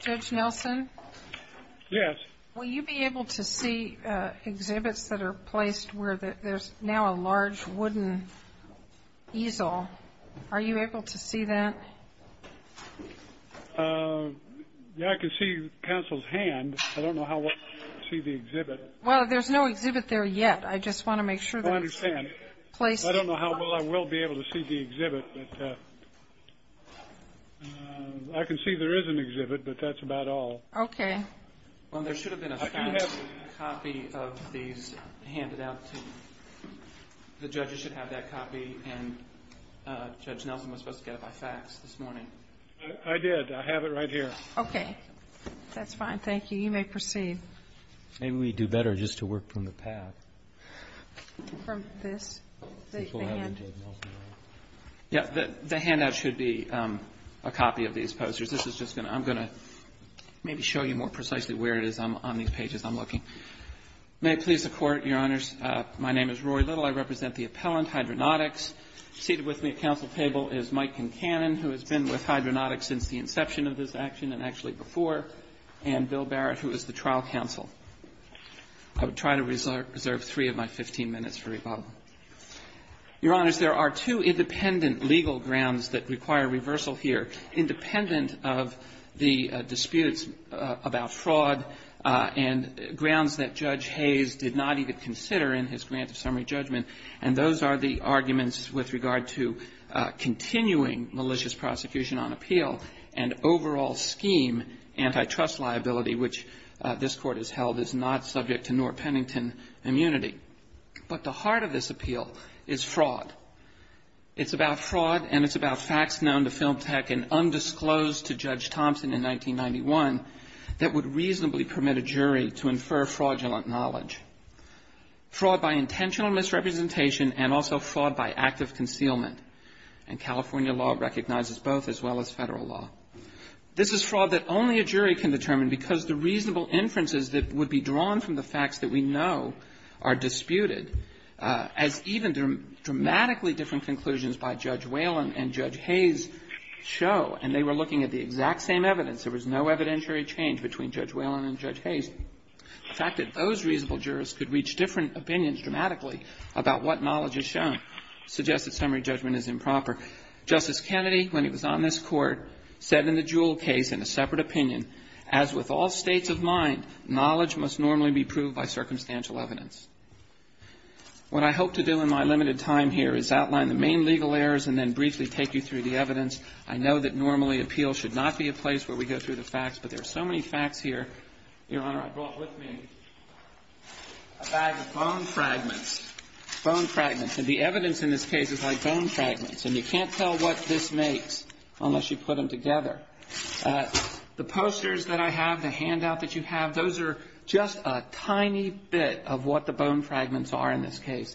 Judge Nelson, will you be able to see exhibits that are placed where there's now a large wooden easel? I don't know how well I will be able to see the exhibit, but I can see there is an exhibit, but that's about all. Well, there should have been a copy of these handed out to you. The judges should have that copy, and Judge Nelson was supposed to get it by fax this morning. I did. I have it right here. Okay. That's fine. Thank you. You may proceed. Maybe we do better just to work from the pad. From this? The handout should be a copy of these posters. This is just going to – I'm going to maybe show you more precisely where it is on these pages I'm looking. May it please the Court, Your Honors, my name is Roy Little. I represent the appellant, Hydronautics. Seated with me at council table is Mike Concanon, who has been with Hydronautics since the inception of this action and actually before, and Bill Barrett, who is the trial counsel. I would try to reserve three of my 15 minutes for rebuttal. Your Honors, there are two independent legal grounds that require reversal here, independent of the disputes about fraud and grounds that Judge Hayes did not even consider in his grant of summary judgment, and those are the arguments with regard to continuing malicious prosecution on appeal and overall scheme, antitrust liability, which this Court has held is not subject to nor Pennington immunity. But the heart of this appeal is fraud. It's about fraud and it's about facts known to Film Tech and undisclosed to Judge Thompson in 1991 that would reasonably permit a jury to infer fraudulent knowledge. Fraud by intentional misrepresentation and also fraud by act of concealment. And California law recognizes both as well as Federal law. This is fraud that only a jury can determine because the reasonable inferences that would be drawn from the facts that we know are disputed, as even dramatically different conclusions by Judge Whalen and Judge Hayes show, and they were looking at the exact same evidence. There was no evidentiary change between Judge Whalen and Judge Hayes. The fact that those reasonable jurors could reach different opinions dramatically about what knowledge is shown suggests that summary judgment is improper. Justice Kennedy, when he was on this Court, said in the Jewell case in a separate opinion, as with all states of mind, knowledge must normally be proved by circumstantial evidence. What I hope to do in my limited time here is outline the main legal errors and then briefly take you through the evidence. I know that normally appeal should not be a place where we go through the facts, but there are so many facts here. Your Honor, I brought with me a bag of bone fragments. Bone fragments. And the evidence in this case is like bone fragments, and you can't tell what this makes unless you put them together. The posters that I have, the handout that you have, those are just a tiny bit of what the bone fragments are in this case.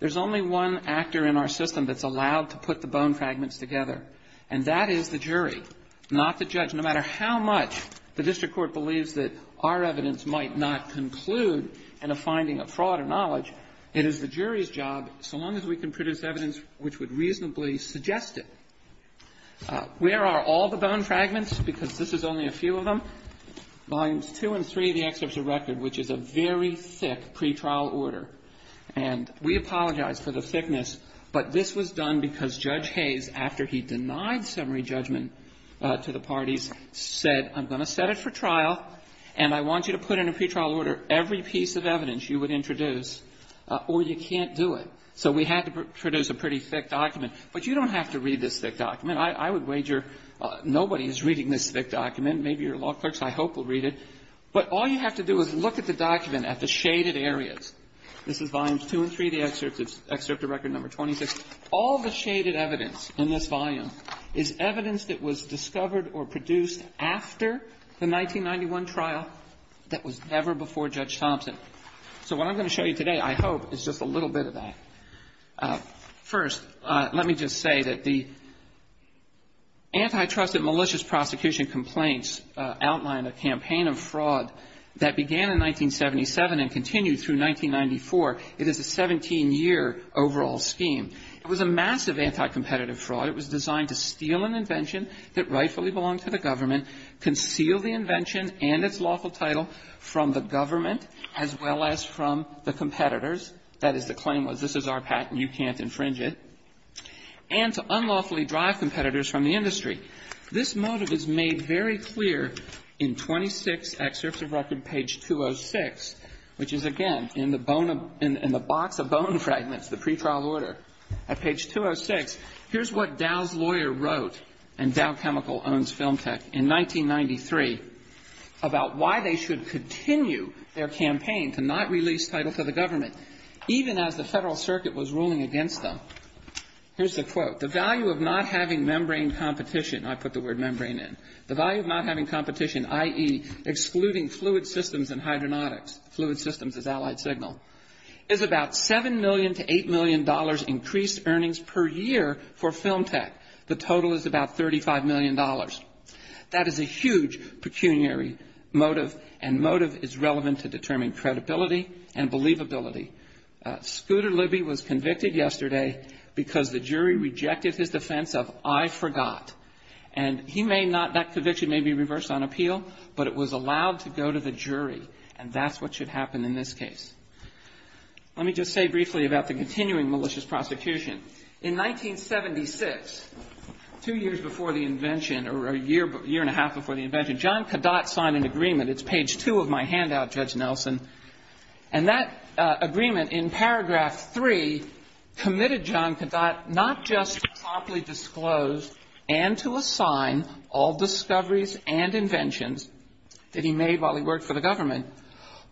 There's only one actor in our system that's allowed to put the bone fragments together, and that is the jury, not the judge. No matter how much the district court believes that our evidence might not conclude in a finding of fraud or knowledge, it is the jury's job, so long as we can produce evidence which would reasonably suggest it. Where are all the bone fragments? Because this is only a few of them. Volumes 2 and 3, the excerpts of record, which is a very thick pretrial order. And we apologize for the thickness, but this was done because Judge Hayes, after he denied summary judgment to the parties, said, I'm going to set it for trial, and I want you to put in a pretrial order every piece of evidence you would introduce, or you can't do it. So we had to produce a pretty thick document. But you don't have to read this thick document. I would wager nobody is reading this thick document. Maybe your law clerks, I hope, will read it. But all you have to do is look at the document at the shaded areas. This is volumes 2 and 3, the excerpts of record number 26. All the shaded evidence in this volume is evidence that was discovered or produced after the 1991 trial that was never before Judge Thompson. So what I'm going to show you today, I hope, is just a little bit of that. First, let me just say that the antitrust and malicious prosecution complaints outline a campaign of fraud that began in 1977 and continued through 1994. It is a 17-year overall scheme. It was a massive anticompetitive fraud. It was designed to steal an invention that rightfully belonged to the government, conceal the invention and its lawful title from the government as well as from the competitors. That is, the claim was, this is our patent. You can't infringe it. And to unlawfully drive competitors from the industry. This motive is made very clear in 26 excerpts of record, page 206, which is, again, in the box of bone fragments, the pretrial order. At page 206, here's what Dow's lawyer wrote, and Dow Chemical owns Film Tech, in 1993 about why they should continue their campaign to not release title to the government, even as the Federal Circuit was ruling against them. Here's the quote. The value of not having membrane competition, I put the word membrane in, the value of not having competition, i.e., excluding fluid systems and hydronautics, fluid systems as allied signal, is about $7 million to $8 million increased earnings per year for Film Tech. The total is about $35 million. That is a huge pecuniary motive, and motive is relevant to determining credibility and believability. Scooter Libby was convicted yesterday because the jury rejected his defense of I forgot. And he may not, that conviction may be reversed on appeal, but it was allowed to go to the jury, and that's what should happen in this case. Let me just say briefly about the continuing malicious prosecution. In 1976, two years before the invention, or a year and a half before the invention, John Kadot signed an agreement. It's page 2 of my handout, Judge Nelson, and that agreement in paragraph 3 committed John Kadot not just to promptly disclose and to assign all discoveries and inventions that he made while he worked for the government,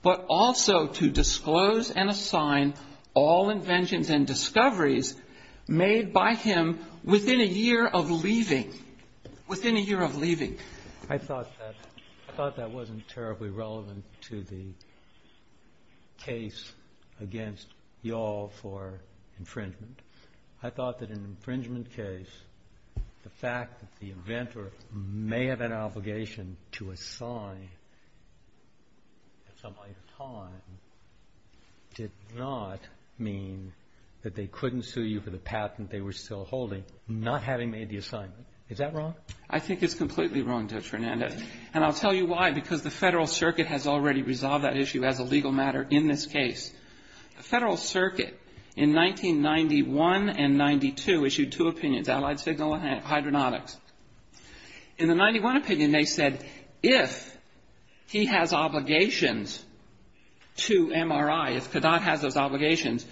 but also to disclose and assign all inventions and discoveries made by him within a year of leaving, within a year of leaving. I thought that wasn't terribly relevant to the case against y'all for infringement. I thought that an infringement case, the fact that the inventor may have an obligation to assign at some point in time, did not mean that they couldn't sue you for the patent they were still holding, not having made the assignment. Is that wrong? I think it's completely wrong, Judge Fernandez. And I'll tell you why, because the Federal Circuit has already resolved that issue as a legal matter in this case. The Federal Circuit in 1991 and 92 issued two opinions, allied signal and hydronautics. In the 91 opinion, they said if he has obligations to MRI, if Kadot has those obligations,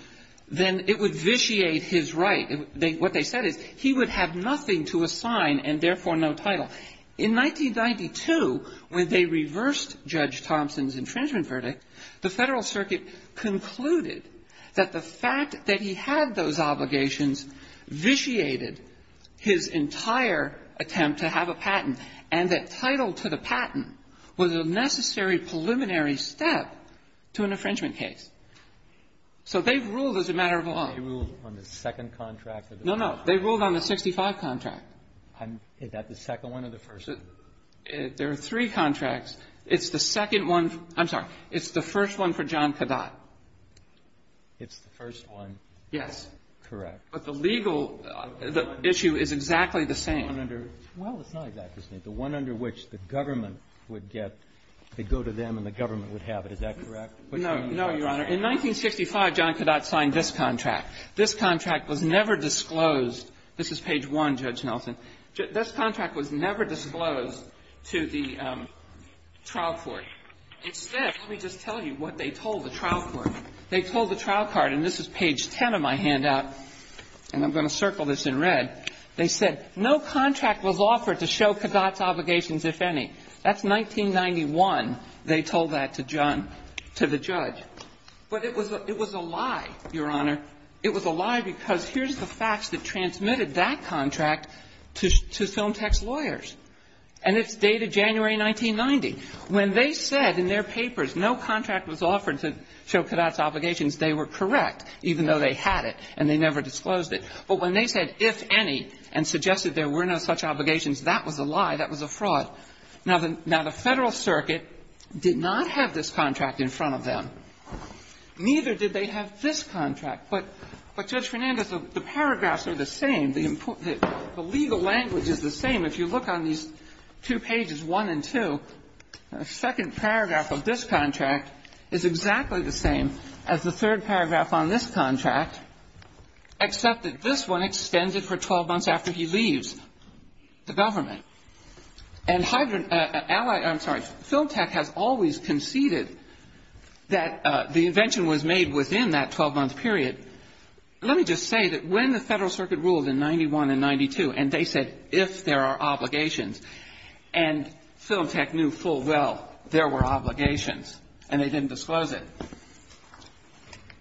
then it would vitiate his right. What they said is he would have nothing to assign and therefore no title. In 1992, when they reversed Judge Thompson's infringement verdict, the Federal Circuit concluded that the fact that he had those obligations vitiated his entire attempt to have a patent and that title to the patent was a necessary preliminary step to an infringement case. So they've ruled as a matter of law. They ruled on the second contract? No, no. They ruled on the 65 contract. Is that the second one or the first one? There are three contracts. It's the second one. I'm sorry. It's the first one for John Kadot. It's the first one. Yes. Correct. But the legal issue is exactly the same. Well, it's not exactly the same. The one under which the government would get to go to them and the government would have it, is that correct? No, no, Your Honor. In 1965, John Kadot signed this contract. This contract was never disclosed. This is page 1, Judge Nelson. This contract was never disclosed to the trial court. Instead, let me just tell you what they told the trial court. They told the trial court, and this is page 10 of my handout, and I'm going to circle this in red. They said, no contract was offered to show Kadot's obligations, if any. That's 1991 they told that to John, to the judge. But it was a lie, Your Honor. It was a lie because here's the facts that transmitted that contract to film text lawyers. And it's dated January 1990. When they said in their papers no contract was offered to show Kadot's obligations, they were correct, even though they had it and they never disclosed it. But when they said, if any, and suggested there were no such obligations, that was a lie. That was a fraud. Now, the Federal Circuit did not have this contract in front of them. Neither did they have this contract. But, Judge Fernandez, the paragraphs are the same. The legal language is the same. If you look on these two pages, 1 and 2, the second paragraph of this contract is exactly the same as the third paragraph on this contract, except that this one extended for 12 months after he leaves the government. And, I'm sorry, Film Tech has always conceded that the invention was made within that 12-month period. Let me just say that when the Federal Circuit ruled in 91 and 92 and they said, if there are obligations, and Film Tech knew full well there were obligations and they didn't disclose it,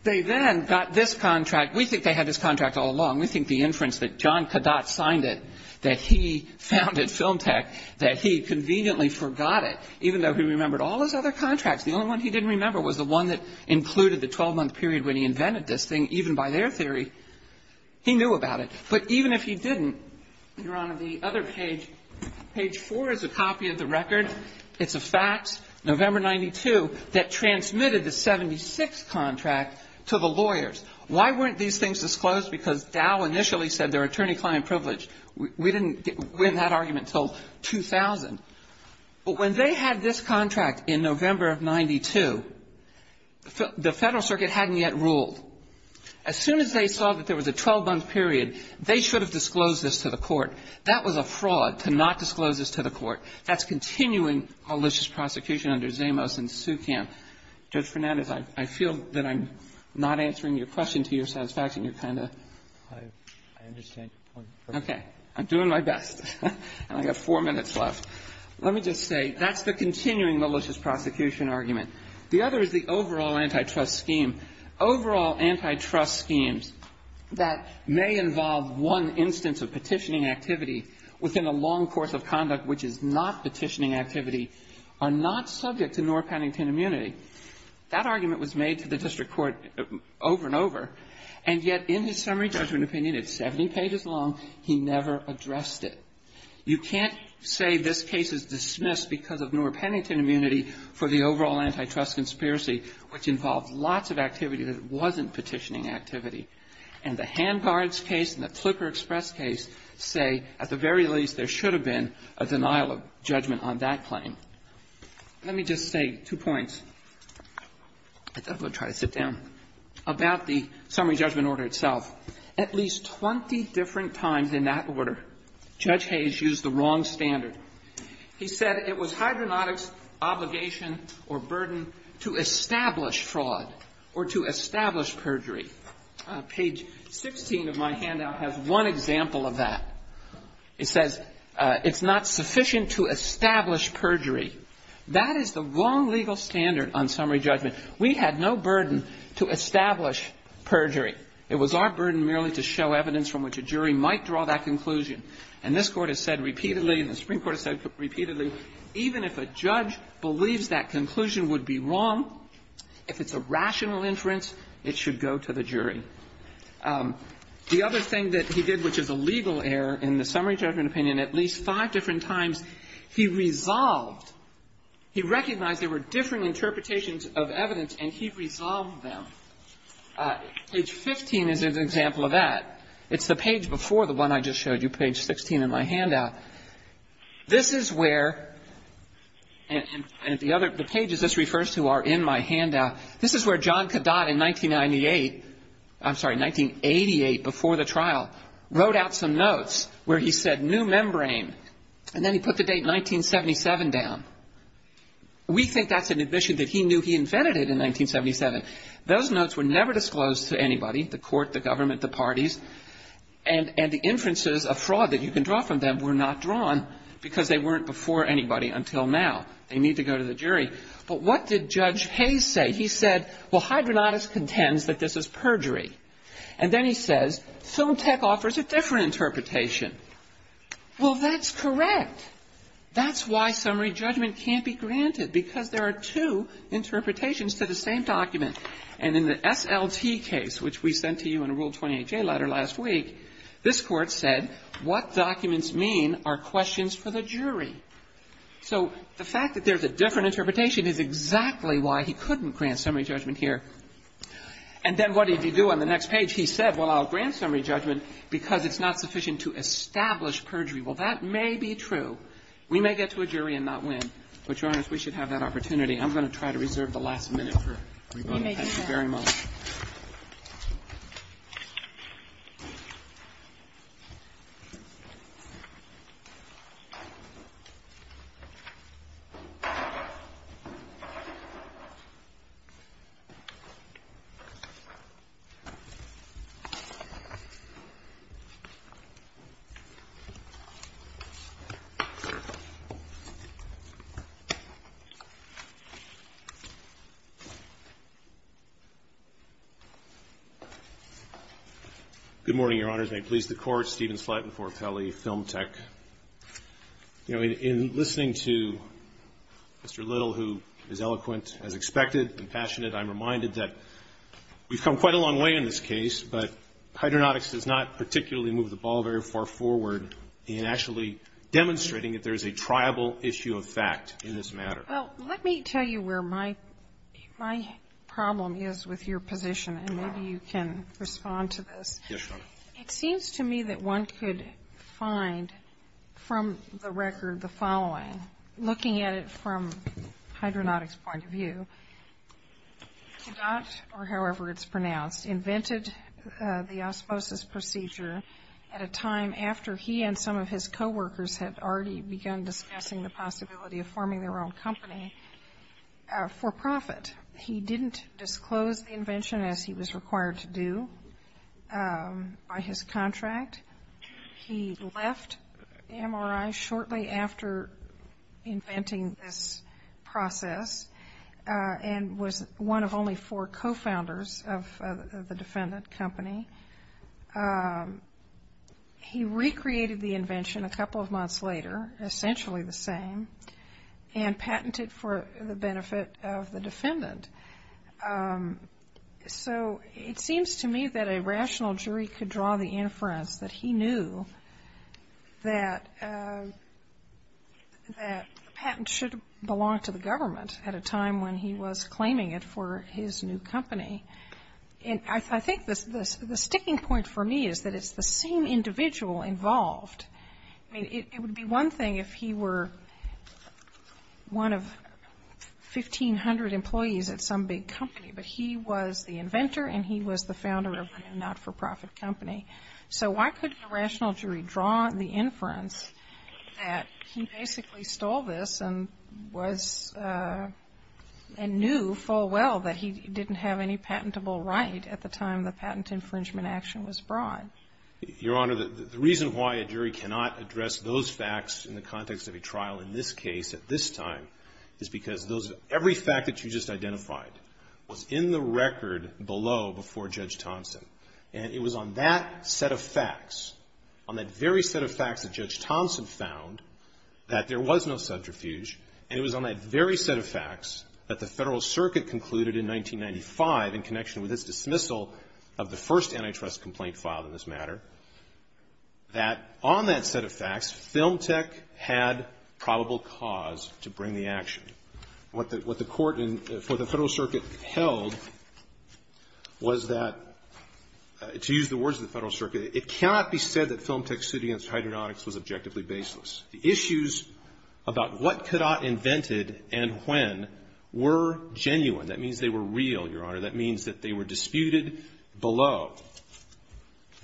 they then got this contract. We think they had this contract all along. We think the inference that John Kadat signed it, that he founded Film Tech, that he conveniently forgot it, even though he remembered all his other contracts. The only one he didn't remember was the one that included the 12-month period when he invented this thing, even by their theory, he knew about it. But even if he didn't, Your Honor, the other page, page 4 is a copy of the record. It's a fact, November 92, that transmitted the 76 contract to the lawyers. Why weren't these things disclosed? Because Dow initially said they're attorney-client privilege. We didn't win that argument until 2000. But when they had this contract in November of 92, the Federal Circuit hadn't yet ruled. As soon as they saw that there was a 12-month period, they should have disclosed this to the court. That was a fraud to not disclose this to the court. That's continuing malicious prosecution under Zamos and Sucamp. Judge Fernandez, I feel that I'm not answering your question to your satisfaction. You're kind of ‑‑ I understand your point. Okay. I'm doing my best. I have four minutes left. Let me just say, that's the continuing malicious prosecution argument. The other is the overall antitrust scheme. Overall antitrust schemes that may involve one instance of petitioning activity within a long course of conduct which is not petitioning activity are not subject to Noor-Pennington immunity. That argument was made to the district court over and over, and yet in his summary judgment opinion, it's 70 pages long, he never addressed it. You can't say this case is dismissed because of Noor-Pennington immunity for the overall antitrust conspiracy, which involved lots of activity that wasn't petitioning activity. And the Ham Guards case and the Flipper Express case say, at the very least, there should have been a denial of judgment on that claim. Let me just say two points. I'll try to sit down. About the summary judgment order itself. At least 20 different times in that order, Judge Hayes used the wrong standard. He said it was hydronautics' obligation or burden to establish fraud or to establish perjury. Page 16 of my handout has one example of that. It says it's not sufficient to establish perjury. That is the wrong legal standard on summary judgment. We had no burden to establish perjury. It was our burden merely to show evidence from which a jury might draw that conclusion. And this Court has said repeatedly, and the Supreme Court has said repeatedly, even if a judge believes that conclusion would be wrong, The other thing that he did, which is a legal error in the summary judgment opinion, at least five different times, he resolved. He recognized there were differing interpretations of evidence, and he resolved them. Page 15 is an example of that. It's the page before the one I just showed you, page 16 in my handout. This is where the pages this refers to are in my handout. This is where John Kadat in 1998, I'm sorry, 1988, before the trial, wrote out some notes where he said new membrane, and then he put the date 1977 down. We think that's an admission that he knew he invented it in 1977. Those notes were never disclosed to anybody, the Court, the government, the parties, and the inferences of fraud that you can draw from them were not drawn because they weren't before anybody until now. They need to go to the jury. But what did Judge Hayes say? He said, well, Hydronautis contends that this is perjury. And then he says, Film Tech offers a different interpretation. Well, that's correct. That's why summary judgment can't be granted because there are two interpretations to the same document. And in the SLT case, which we sent to you in a Rule 28J letter last week, So the fact that there's a different interpretation is exactly why he couldn't grant summary judgment here. And then what did he do on the next page? He said, well, I'll grant summary judgment because it's not sufficient to establish perjury. Well, that may be true. We may get to a jury and not win. But, Your Honor, we should have that opportunity. I'm going to try to reserve the last minute for rebuttal. Thank you very much. Thank you. Good morning, Your Honors. May it please the Court. Steven Slatt in Fort Pelley, Film Tech. You know, in listening to Mr. Little, who is eloquent, as expected, and passionate, I'm reminded that we've come quite a long way in this case, but Hydronautics does not particularly move the ball very far forward in actually demonstrating that there is a triable issue of fact in this matter. Well, let me tell you where my problem is with your position, and maybe you can respond to this. Yes, Your Honor. It seems to me that one could find from the record the following, looking at it from Hydronautics' point of view. Kedat, or however it's pronounced, invented the osmosis procedure at a time after he and some of his coworkers had already begun discussing the possibility of forming their own company for profit. He didn't disclose the invention as he was required to do by his contract. He left MRI shortly after inventing this process and was one of only four co-founders of the defendant company. He recreated the invention a couple of months later, essentially the same, and patented for the benefit of the defendant. So it seems to me that a rational jury could draw the inference that he knew that patents should belong to the government at a time when he was claiming it for his new company. And I think the sticking point for me is that it's the same individual involved. I mean, it would be one thing if he were one of 1,500 employees at some big company, but he was the inventor and he was the founder of a not-for-profit company. So why couldn't a rational jury draw the inference that he basically stole this and knew full well that he didn't have any patentable right at the time the patent infringement action was brought? Your Honor, the reason why a jury cannot address those facts in the context of a trial in this case at this time is because every fact that you just identified was in the record below before Judge Thompson, and it was on that set of facts, on that very set of facts that Judge Thompson found that there was no subterfuge, and it was on that very set of facts that the Federal Circuit concluded in 1995, in connection with its dismissal of the first antitrust complaint filed in this matter, that on that set of facts, Film Tech had probable cause to bring the action. What the Court in the Federal Circuit held was that, to use the words of the Federal Circuit, the Court said that Film Tech's suit against hydronautics was objectively baseless. The issues about what Cadat invented and when were genuine. That means they were real, Your Honor. That means that they were disputed below.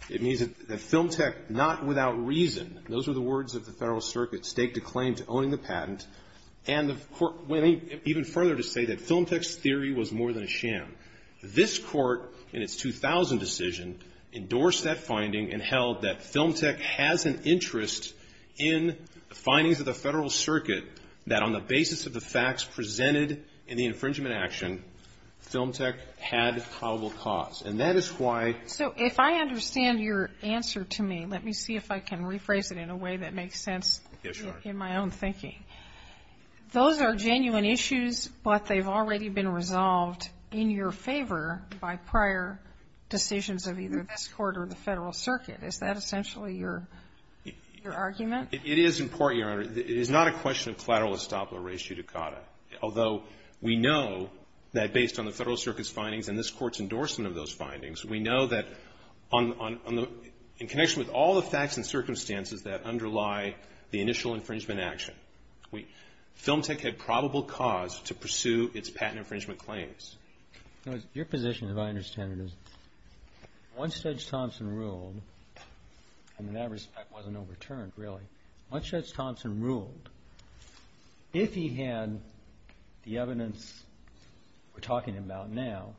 It means that Film Tech, not without reason, those were the words that the Federal Circuit staked a claim to owning the patent, and the Court went even further to say that Film Tech's theory was more than a sham. This Court, in its 2000 decision, endorsed that finding and held that Film Tech has an interest in the findings of the Federal Circuit that, on the basis of the facts presented in the infringement action, Film Tech had probable cause. And that is why ---- So if I understand your answer to me, let me see if I can rephrase it in a way that Yes, Your Honor. Those are genuine issues, but they've already been resolved in your favor by prior decisions of either this Court or the Federal Circuit. Is that essentially your argument? It is, in part, Your Honor. It is not a question of collateral estoppel or res judicata, although we know that based on the Federal Circuit's findings and this Court's endorsement of those findings, we know that on the ---- in connection with all the facts and circumstances that underlie the initial infringement action, Film Tech had probable cause to pursue its patent infringement claims. Your position, as I understand it, is once Judge Thompson ruled, and in that respect wasn't overturned really, once Judge Thompson ruled, if he had the evidence we're talking about now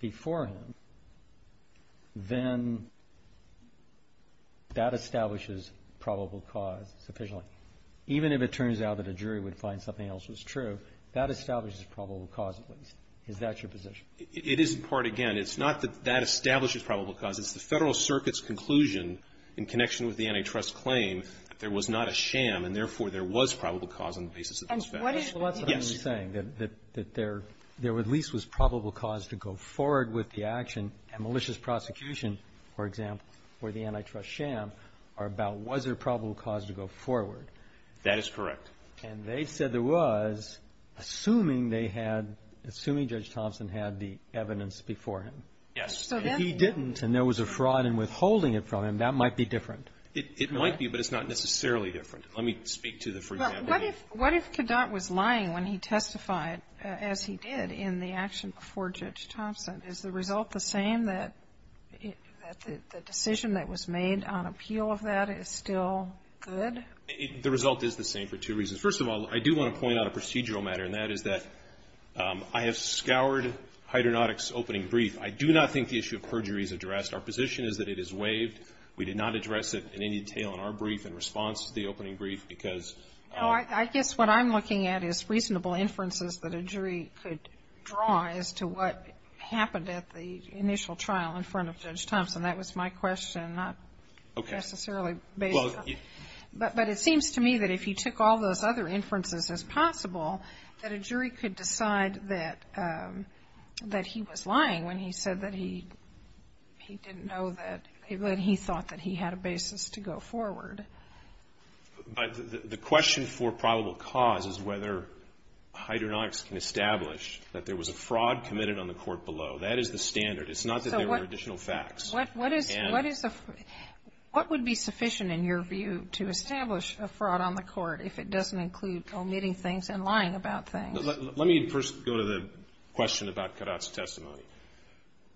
before him, then that establishes probable cause sufficiently. Even if it turns out that a jury would find something else was true, that establishes probable cause at least. Is that your position? It is, in part. Again, it's not that that establishes probable cause. It's the Federal Circuit's conclusion in connection with the antitrust claim that there was not a sham and, therefore, there was probable cause on the basis of those facts. So that's what I'm saying, that there at least was probable cause to go forward with the action. A malicious prosecution, for example, or the antitrust sham are about was there probable cause to go forward. That is correct. And they said there was, assuming they had ---- assuming Judge Thompson had the evidence before him. Yes. If he didn't and there was a fraud in withholding it from him, that might be different. It might be, but it's not necessarily different. Let me speak to the first ---- What if Kedat was lying when he testified as he did in the action before Judge Thompson? Is the result the same, that the decision that was made on appeal of that is still good? The result is the same for two reasons. First of all, I do want to point out a procedural matter, and that is that I have scoured Hyder Nodick's opening brief. I do not think the issue of perjury is addressed. Our position is that it is waived. We did not address it in any detail in our brief in response to the opening brief because ---- No, I guess what I'm looking at is reasonable inferences that a jury could draw as to what happened at the initial trial in front of Judge Thompson. That was my question, not necessarily based on ---- Okay. Well, you ---- But it seems to me that if you took all those other inferences as possible, that a jury could decide that he was lying when he said that he didn't know that ---- that he thought that he had a basis to go forward. But the question for probable cause is whether Hyder Nodick's can establish that there was a fraud committed on the court below. That is the standard. It's not that there were additional facts. What is a ---- What is a ---- What would be sufficient in your view to establish a fraud on the court if it doesn't include omitting things and lying about things? Let me first go to the question about Kadat's testimony.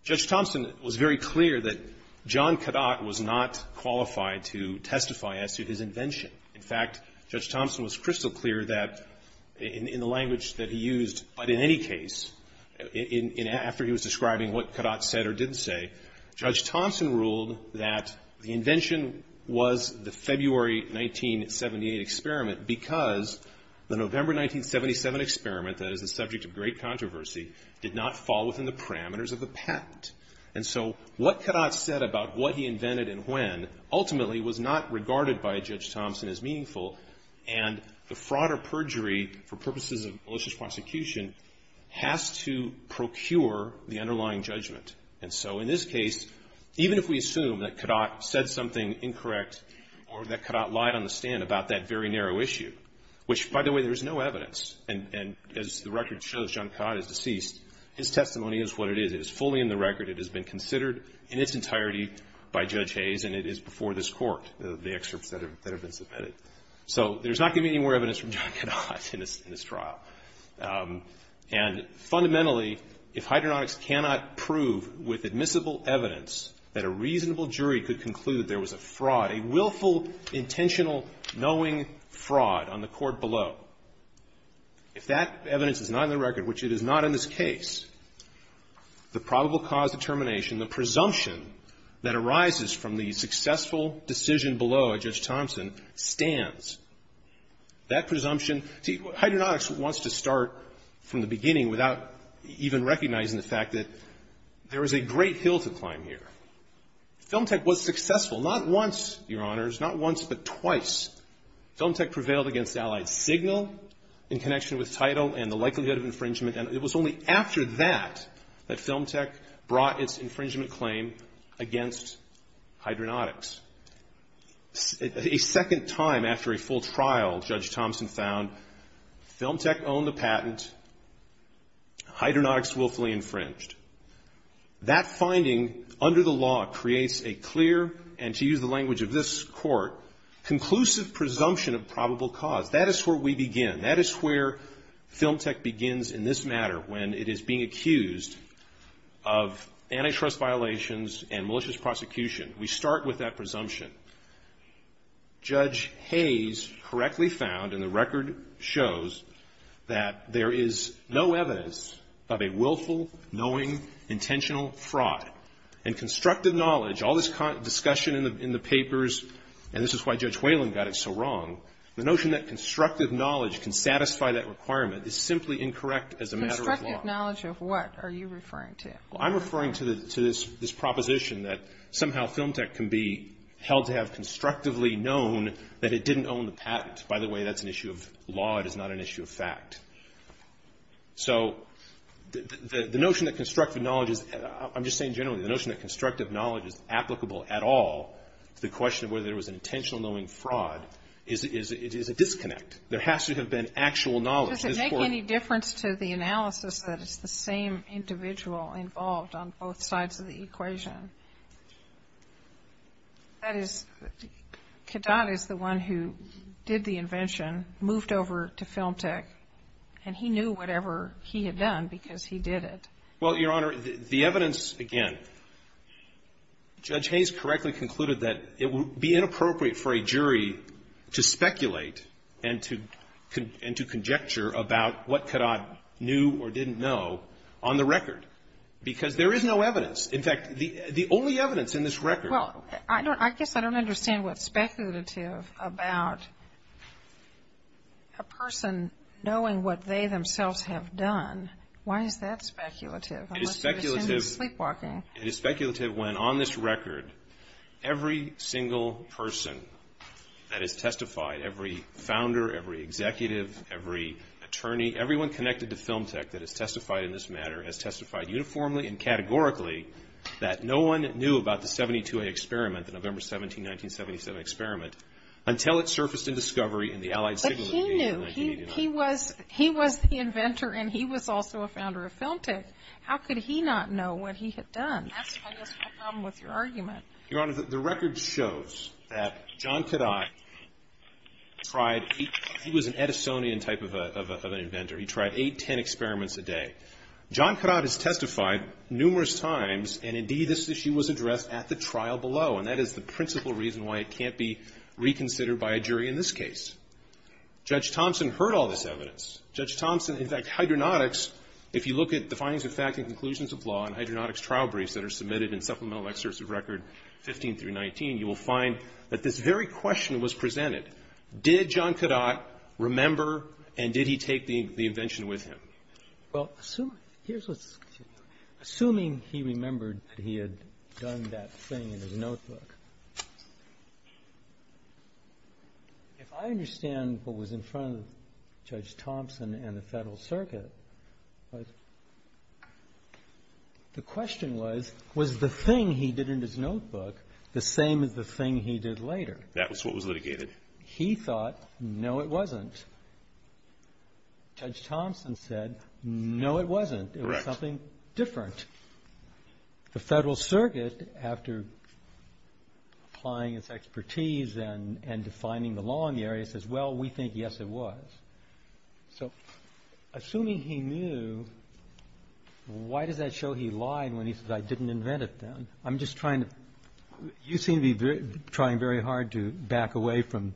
Judge Thompson was very clear that John Kadat was not qualified to testify as to his invention. In fact, Judge Thompson was crystal clear that in the language that he used, but in any case, after he was describing what Kadat said or didn't say, Judge Thompson ruled that the invention was the February 1978 experiment because the November 1977 experiment, that is the subject of great controversy, did not fall within the parameters of the patent. And so what Kadat said about what he invented and when ultimately was not regarded by Judge Thompson as meaningful, and the fraud or perjury for purposes of malicious prosecution has to procure the underlying judgment. And so in this case, even if we assume that Kadat said something incorrect or that Kadat lied on the stand about that very narrow issue, which, by the way, there is no evidence. And as the record shows, John Kadat is deceased. His testimony is what it is. It is fully in the record. It has been considered in its entirety by Judge Hayes, and it is before this court, the excerpts that have been submitted. So there's not going to be any more evidence from John Kadat in this trial. And fundamentally, if hydronautics cannot prove with admissible evidence that a reasonable jury could conclude there was a fraud, a willful, intentional, knowing fraud on the court below, if that evidence is not in the record, which it is not in this case, the probable cause determination, the presumption that arises from the successful decision below a Judge Thompson stands. That presumption, see, hydronautics wants to start from the beginning without even recognizing the fact that there is a great hill to climb here. Film Tech was successful, not once, Your Honors, not once, but twice. Film Tech prevailed against Allied Signal in connection with title and the likelihood of infringement, and it was only after that that Film Tech brought its infringement claim against hydronautics. A second time after a full trial, Judge Thompson found Film Tech owned the patent, hydronautics willfully infringed. That finding, under the law, creates a clear, and to use the language of this court, conclusive presumption of probable cause. That is where we begin. That is where Film Tech begins in this matter when it is being accused of antitrust violations and malicious prosecution. We start with that presumption. Judge Hayes correctly found, and the record shows, that there is no evidence of a willful, knowing, intentional fraud. In constructive knowledge, all this discussion in the papers, and this is why Judge Whalen got it so wrong, the notion that constructive knowledge can satisfy that requirement is simply incorrect as a matter of law. Constructive knowledge of what are you referring to? I'm referring to this proposition that somehow Film Tech can be held to have constructively known that it didn't own the patent. By the way, that's an issue of law. It is not an issue of fact. So the notion that constructive knowledge is, I'm just saying generally, the notion that constructive knowledge is applicable at all to the question of whether there was an intentional knowing fraud is a disconnect. There has to have been actual knowledge in this court. Does it make any difference to the analysis that it's the same individual involved on both sides of the equation? That is, Kadat is the one who did the invention, moved over to Film Tech, and he knew whatever he had done because he did it. Well, Your Honor, the evidence, again, Judge Hayes correctly concluded that it would be inappropriate for a jury to speculate and to conjecture about what Kadat knew or didn't know on the record, because there is no evidence. In fact, the only evidence in this record. Well, I guess I don't understand what's speculative about a person knowing what they themselves have done. Why is that speculative? It is speculative when on this record every single person that has testified, every founder, every executive, every attorney, everyone connected to Film Tech that has testified in this matter has testified uniformly and categorically that no one knew about the 72-A experiment, the November 17, 1977 experiment, until it surfaced in discovery in the Allied Signal Engagement in 1989. But he knew. He was the inventor and he was also a founder of Film Tech. How could he not know what he had done? That's, I guess, my problem with your argument. Your Honor, the record shows that John Kadat tried, he was an Edisonian type of an inventor. He tried eight, ten experiments a day. John Kadat has testified numerous times and, indeed, this issue was addressed at the trial below, and that is the principal reason why it can't be reconsidered by a jury in this case. Judge Thompson heard all this evidence. Judge Thompson, in fact, hydronautics, if you look at the findings of fact and conclusions of law and hydronautics trial briefs that are submitted in Supplemental Excerpts of Record 15 through 19, you will find that this very question was presented. Did John Kadat remember and did he take the invention with him? Well, assuming he remembered that he had done that thing in his notebook, if I understand what was in front of Judge Thompson and the Federal Circuit, the question was, was the thing he did in his notebook the same as the thing he did later? That was what was litigated. He thought, no, it wasn't. Judge Thompson said, no, it wasn't. Correct. It was something different. The Federal Circuit, after applying its expertise and defining the law in the area, says, well, we think, yes, it was. So, assuming he knew, why does that show he lied when he said, I didn't invent it then? I'm just trying to you seem to be trying very hard to back away from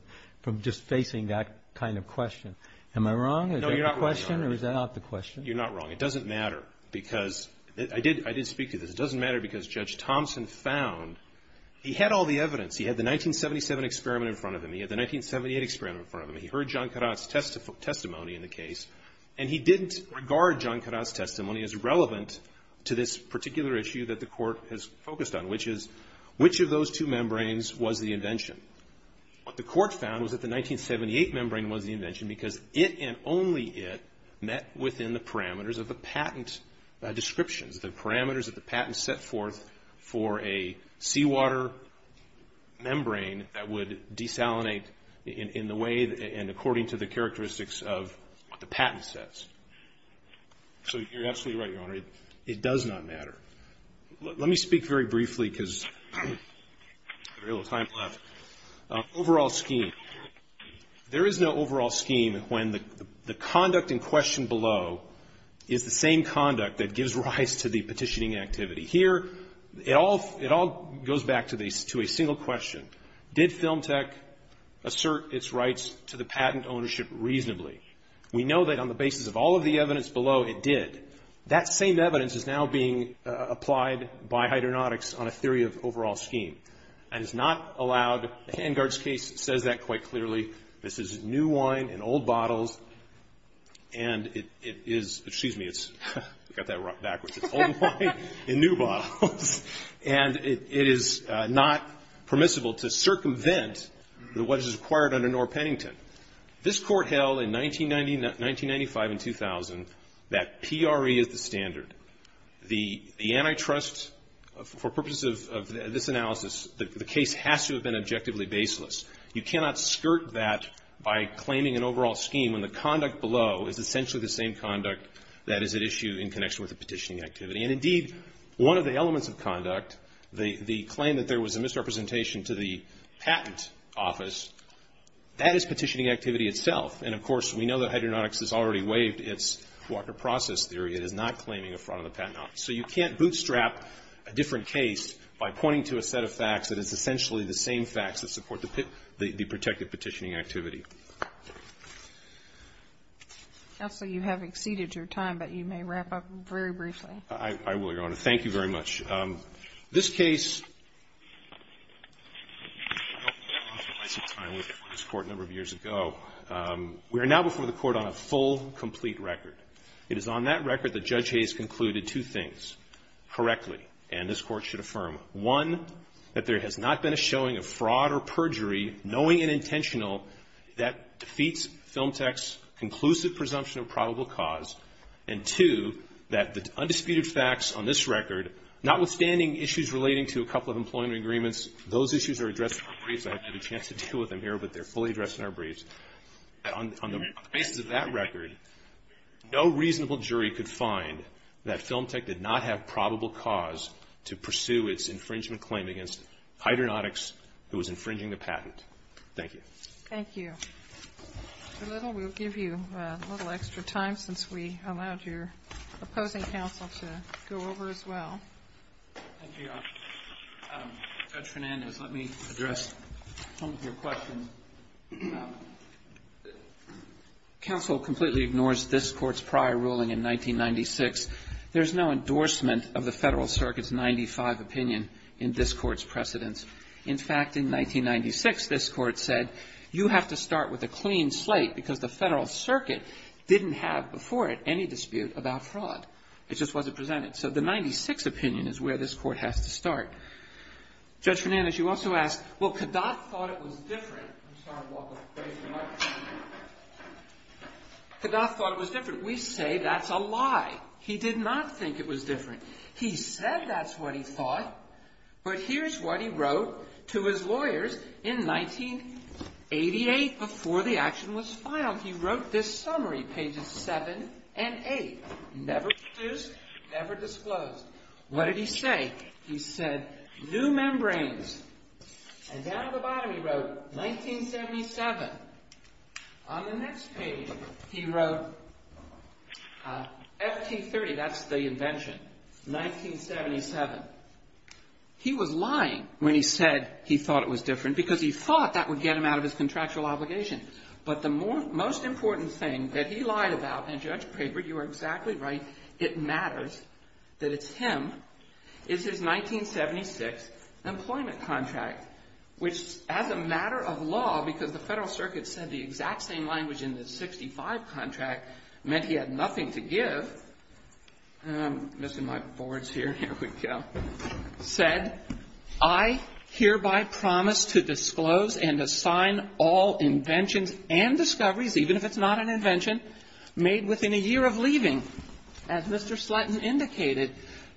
just facing that kind of question. Am I wrong? No, you're not wrong. Is that the question or is that not the question? You're not wrong. It doesn't matter because I did speak to this. It doesn't matter because Judge Thompson found he had all the evidence. He had the 1977 experiment in front of him. He had the 1978 experiment in front of him. He heard John Kadat's testimony in the case, and he didn't regard John Kadat's which of those two membranes was the invention? What the court found was that the 1978 membrane was the invention because it and only it met within the parameters of the patent descriptions, the parameters that the patent set forth for a seawater membrane that would desalinate in the way and according to the characteristics of what the patent says. So, you're absolutely right, Your Honor. It does not matter. Let me speak very briefly because we have a little time left. Overall scheme, there is no overall scheme when the conduct in question below is the same conduct that gives rise to the petitioning activity. Here, it all goes back to a single question. Did Film Tech assert its rights to the patent ownership reasonably? We know that on the basis of all of the evidence below, it did. That same evidence is now being applied by hydronautics on a theory of overall scheme. And it's not allowed. The Hangard's case says that quite clearly. This is new wine in old bottles, and it is, excuse me, it's, we got that backwards. It's old wine in new bottles, and it is not permissible to circumvent what is required under Norr-Pennington. This Court held in 1995 and 2000 that PRE is the standard. The antitrust, for purposes of this analysis, the case has to have been objectively baseless. You cannot skirt that by claiming an overall scheme when the conduct below is essentially the same conduct that is at issue in connection with the petitioning activity. And, indeed, one of the elements of conduct, the claim that there was a misrepresentation to the patent office, that is petitioning activity itself. And, of course, we know that hydronautics has already waived its Walker process theory. It is not claiming a fraud of the patent office. So you can't bootstrap a different case by pointing to a set of facts that is essentially the same facts that support the protected petitioning activity. Counsel, you have exceeded your time, but you may wrap up very briefly. I will, Your Honor. Thank you very much. Thank you, Judge. This case, we are now before the Court on a full, complete record. It is on that record that Judge Hayes concluded two things correctly, and this Court should affirm. One, that there has not been a showing of fraud or perjury, knowing and intentional, that defeats FilmTech's conclusive presumption of probable cause. And two, that the undisputed facts on this record, notwithstanding issues relating to a couple of employment agreements, those issues are addressed in our briefs. I haven't had a chance to deal with them here, but they're fully addressed in our briefs. On the basis of that record, no reasonable jury could find that FilmTech did not have probable cause to pursue its infringement claim against hydronautics, who was infringing the patent. Thank you. Thank you. Mr. Little, we'll give you a little extra time since we allowed your opposing counsel to go over as well. Thank you, Your Honor. Judge Fernandez, let me address some of your questions. Counsel completely ignores this Court's prior ruling in 1996. There's no endorsement of the Federal Circuit's 95 opinion in this Court's precedence. In fact, in 1996, this Court said, you have to start with a clean slate because the Federal Circuit didn't have before it any dispute about fraud. It just wasn't presented. So the 96 opinion is where this Court has to start. Judge Fernandez, you also asked, well, Kadath thought it was different. I'm sorry to walk away from the microphone. Kadath thought it was different. We say that's a lie. He did not think it was different. He said that's what he thought. But here's what he wrote to his lawyers in 1988 before the action was filed. He wrote this summary, pages 7 and 8, never produced, never disclosed. What did he say? He said, new membranes. And down at the bottom he wrote 1977. On the next page he wrote FT-30, that's the invention, 1977. He was lying when he said he thought it was different because he thought that would get him out of his contractual obligation. But the most important thing that he lied about, and, Judge Craver, you are exactly right, it matters that it's him, is his 1976 employment contract, which, as a matter of law, because the Federal Circuit said the exact same language in the 65 contract meant he had nothing to give. I'm missing my boards here. Here we go. Said, I hereby promise to disclose and assign all inventions and discoveries, even if it's not an invention, made within a year of leaving. As Mr. Slutton indicated,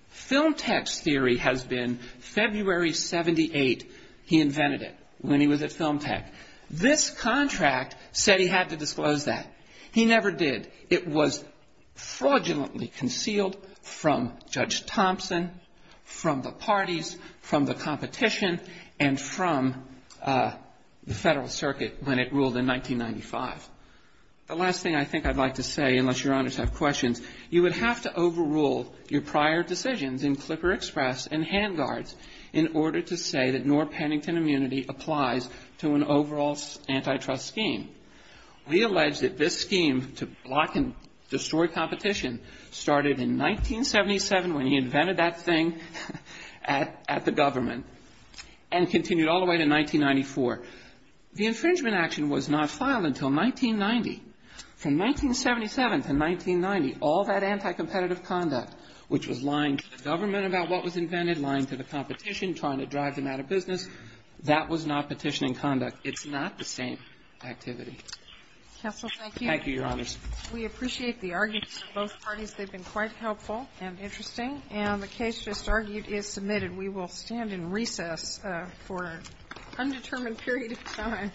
Film Tech's theory has been February 78, he invented it when he was at Film Tech. This contract said he had to disclose that. He never did. It was fraudulently concealed from Judge Thompson, from the parties, from the competition, and from the Federal Circuit when it ruled in 1995. The last thing I think I'd like to say, unless Your Honors have questions, you would have to overrule your prior decisions in Clipper Express and Handguards in order to say that Knorr-Pennington immunity applies to an overall antitrust scheme. We allege that this scheme to block and destroy competition started in 1977 when he invented that thing at the government and continued all the way to 1994. The infringement action was not filed until 1990. From 1977 to 1990, all that anticompetitive conduct, which was lying to the government about what was invented, lying to the competition, trying to drive them out of business, that was not petitioning conduct. It's not the same activity. Thank you, Your Honors. We appreciate the arguments from both parties. They've been quite helpful and interesting. And the case just argued is submitted. We will stand in recess for an undetermined period of time.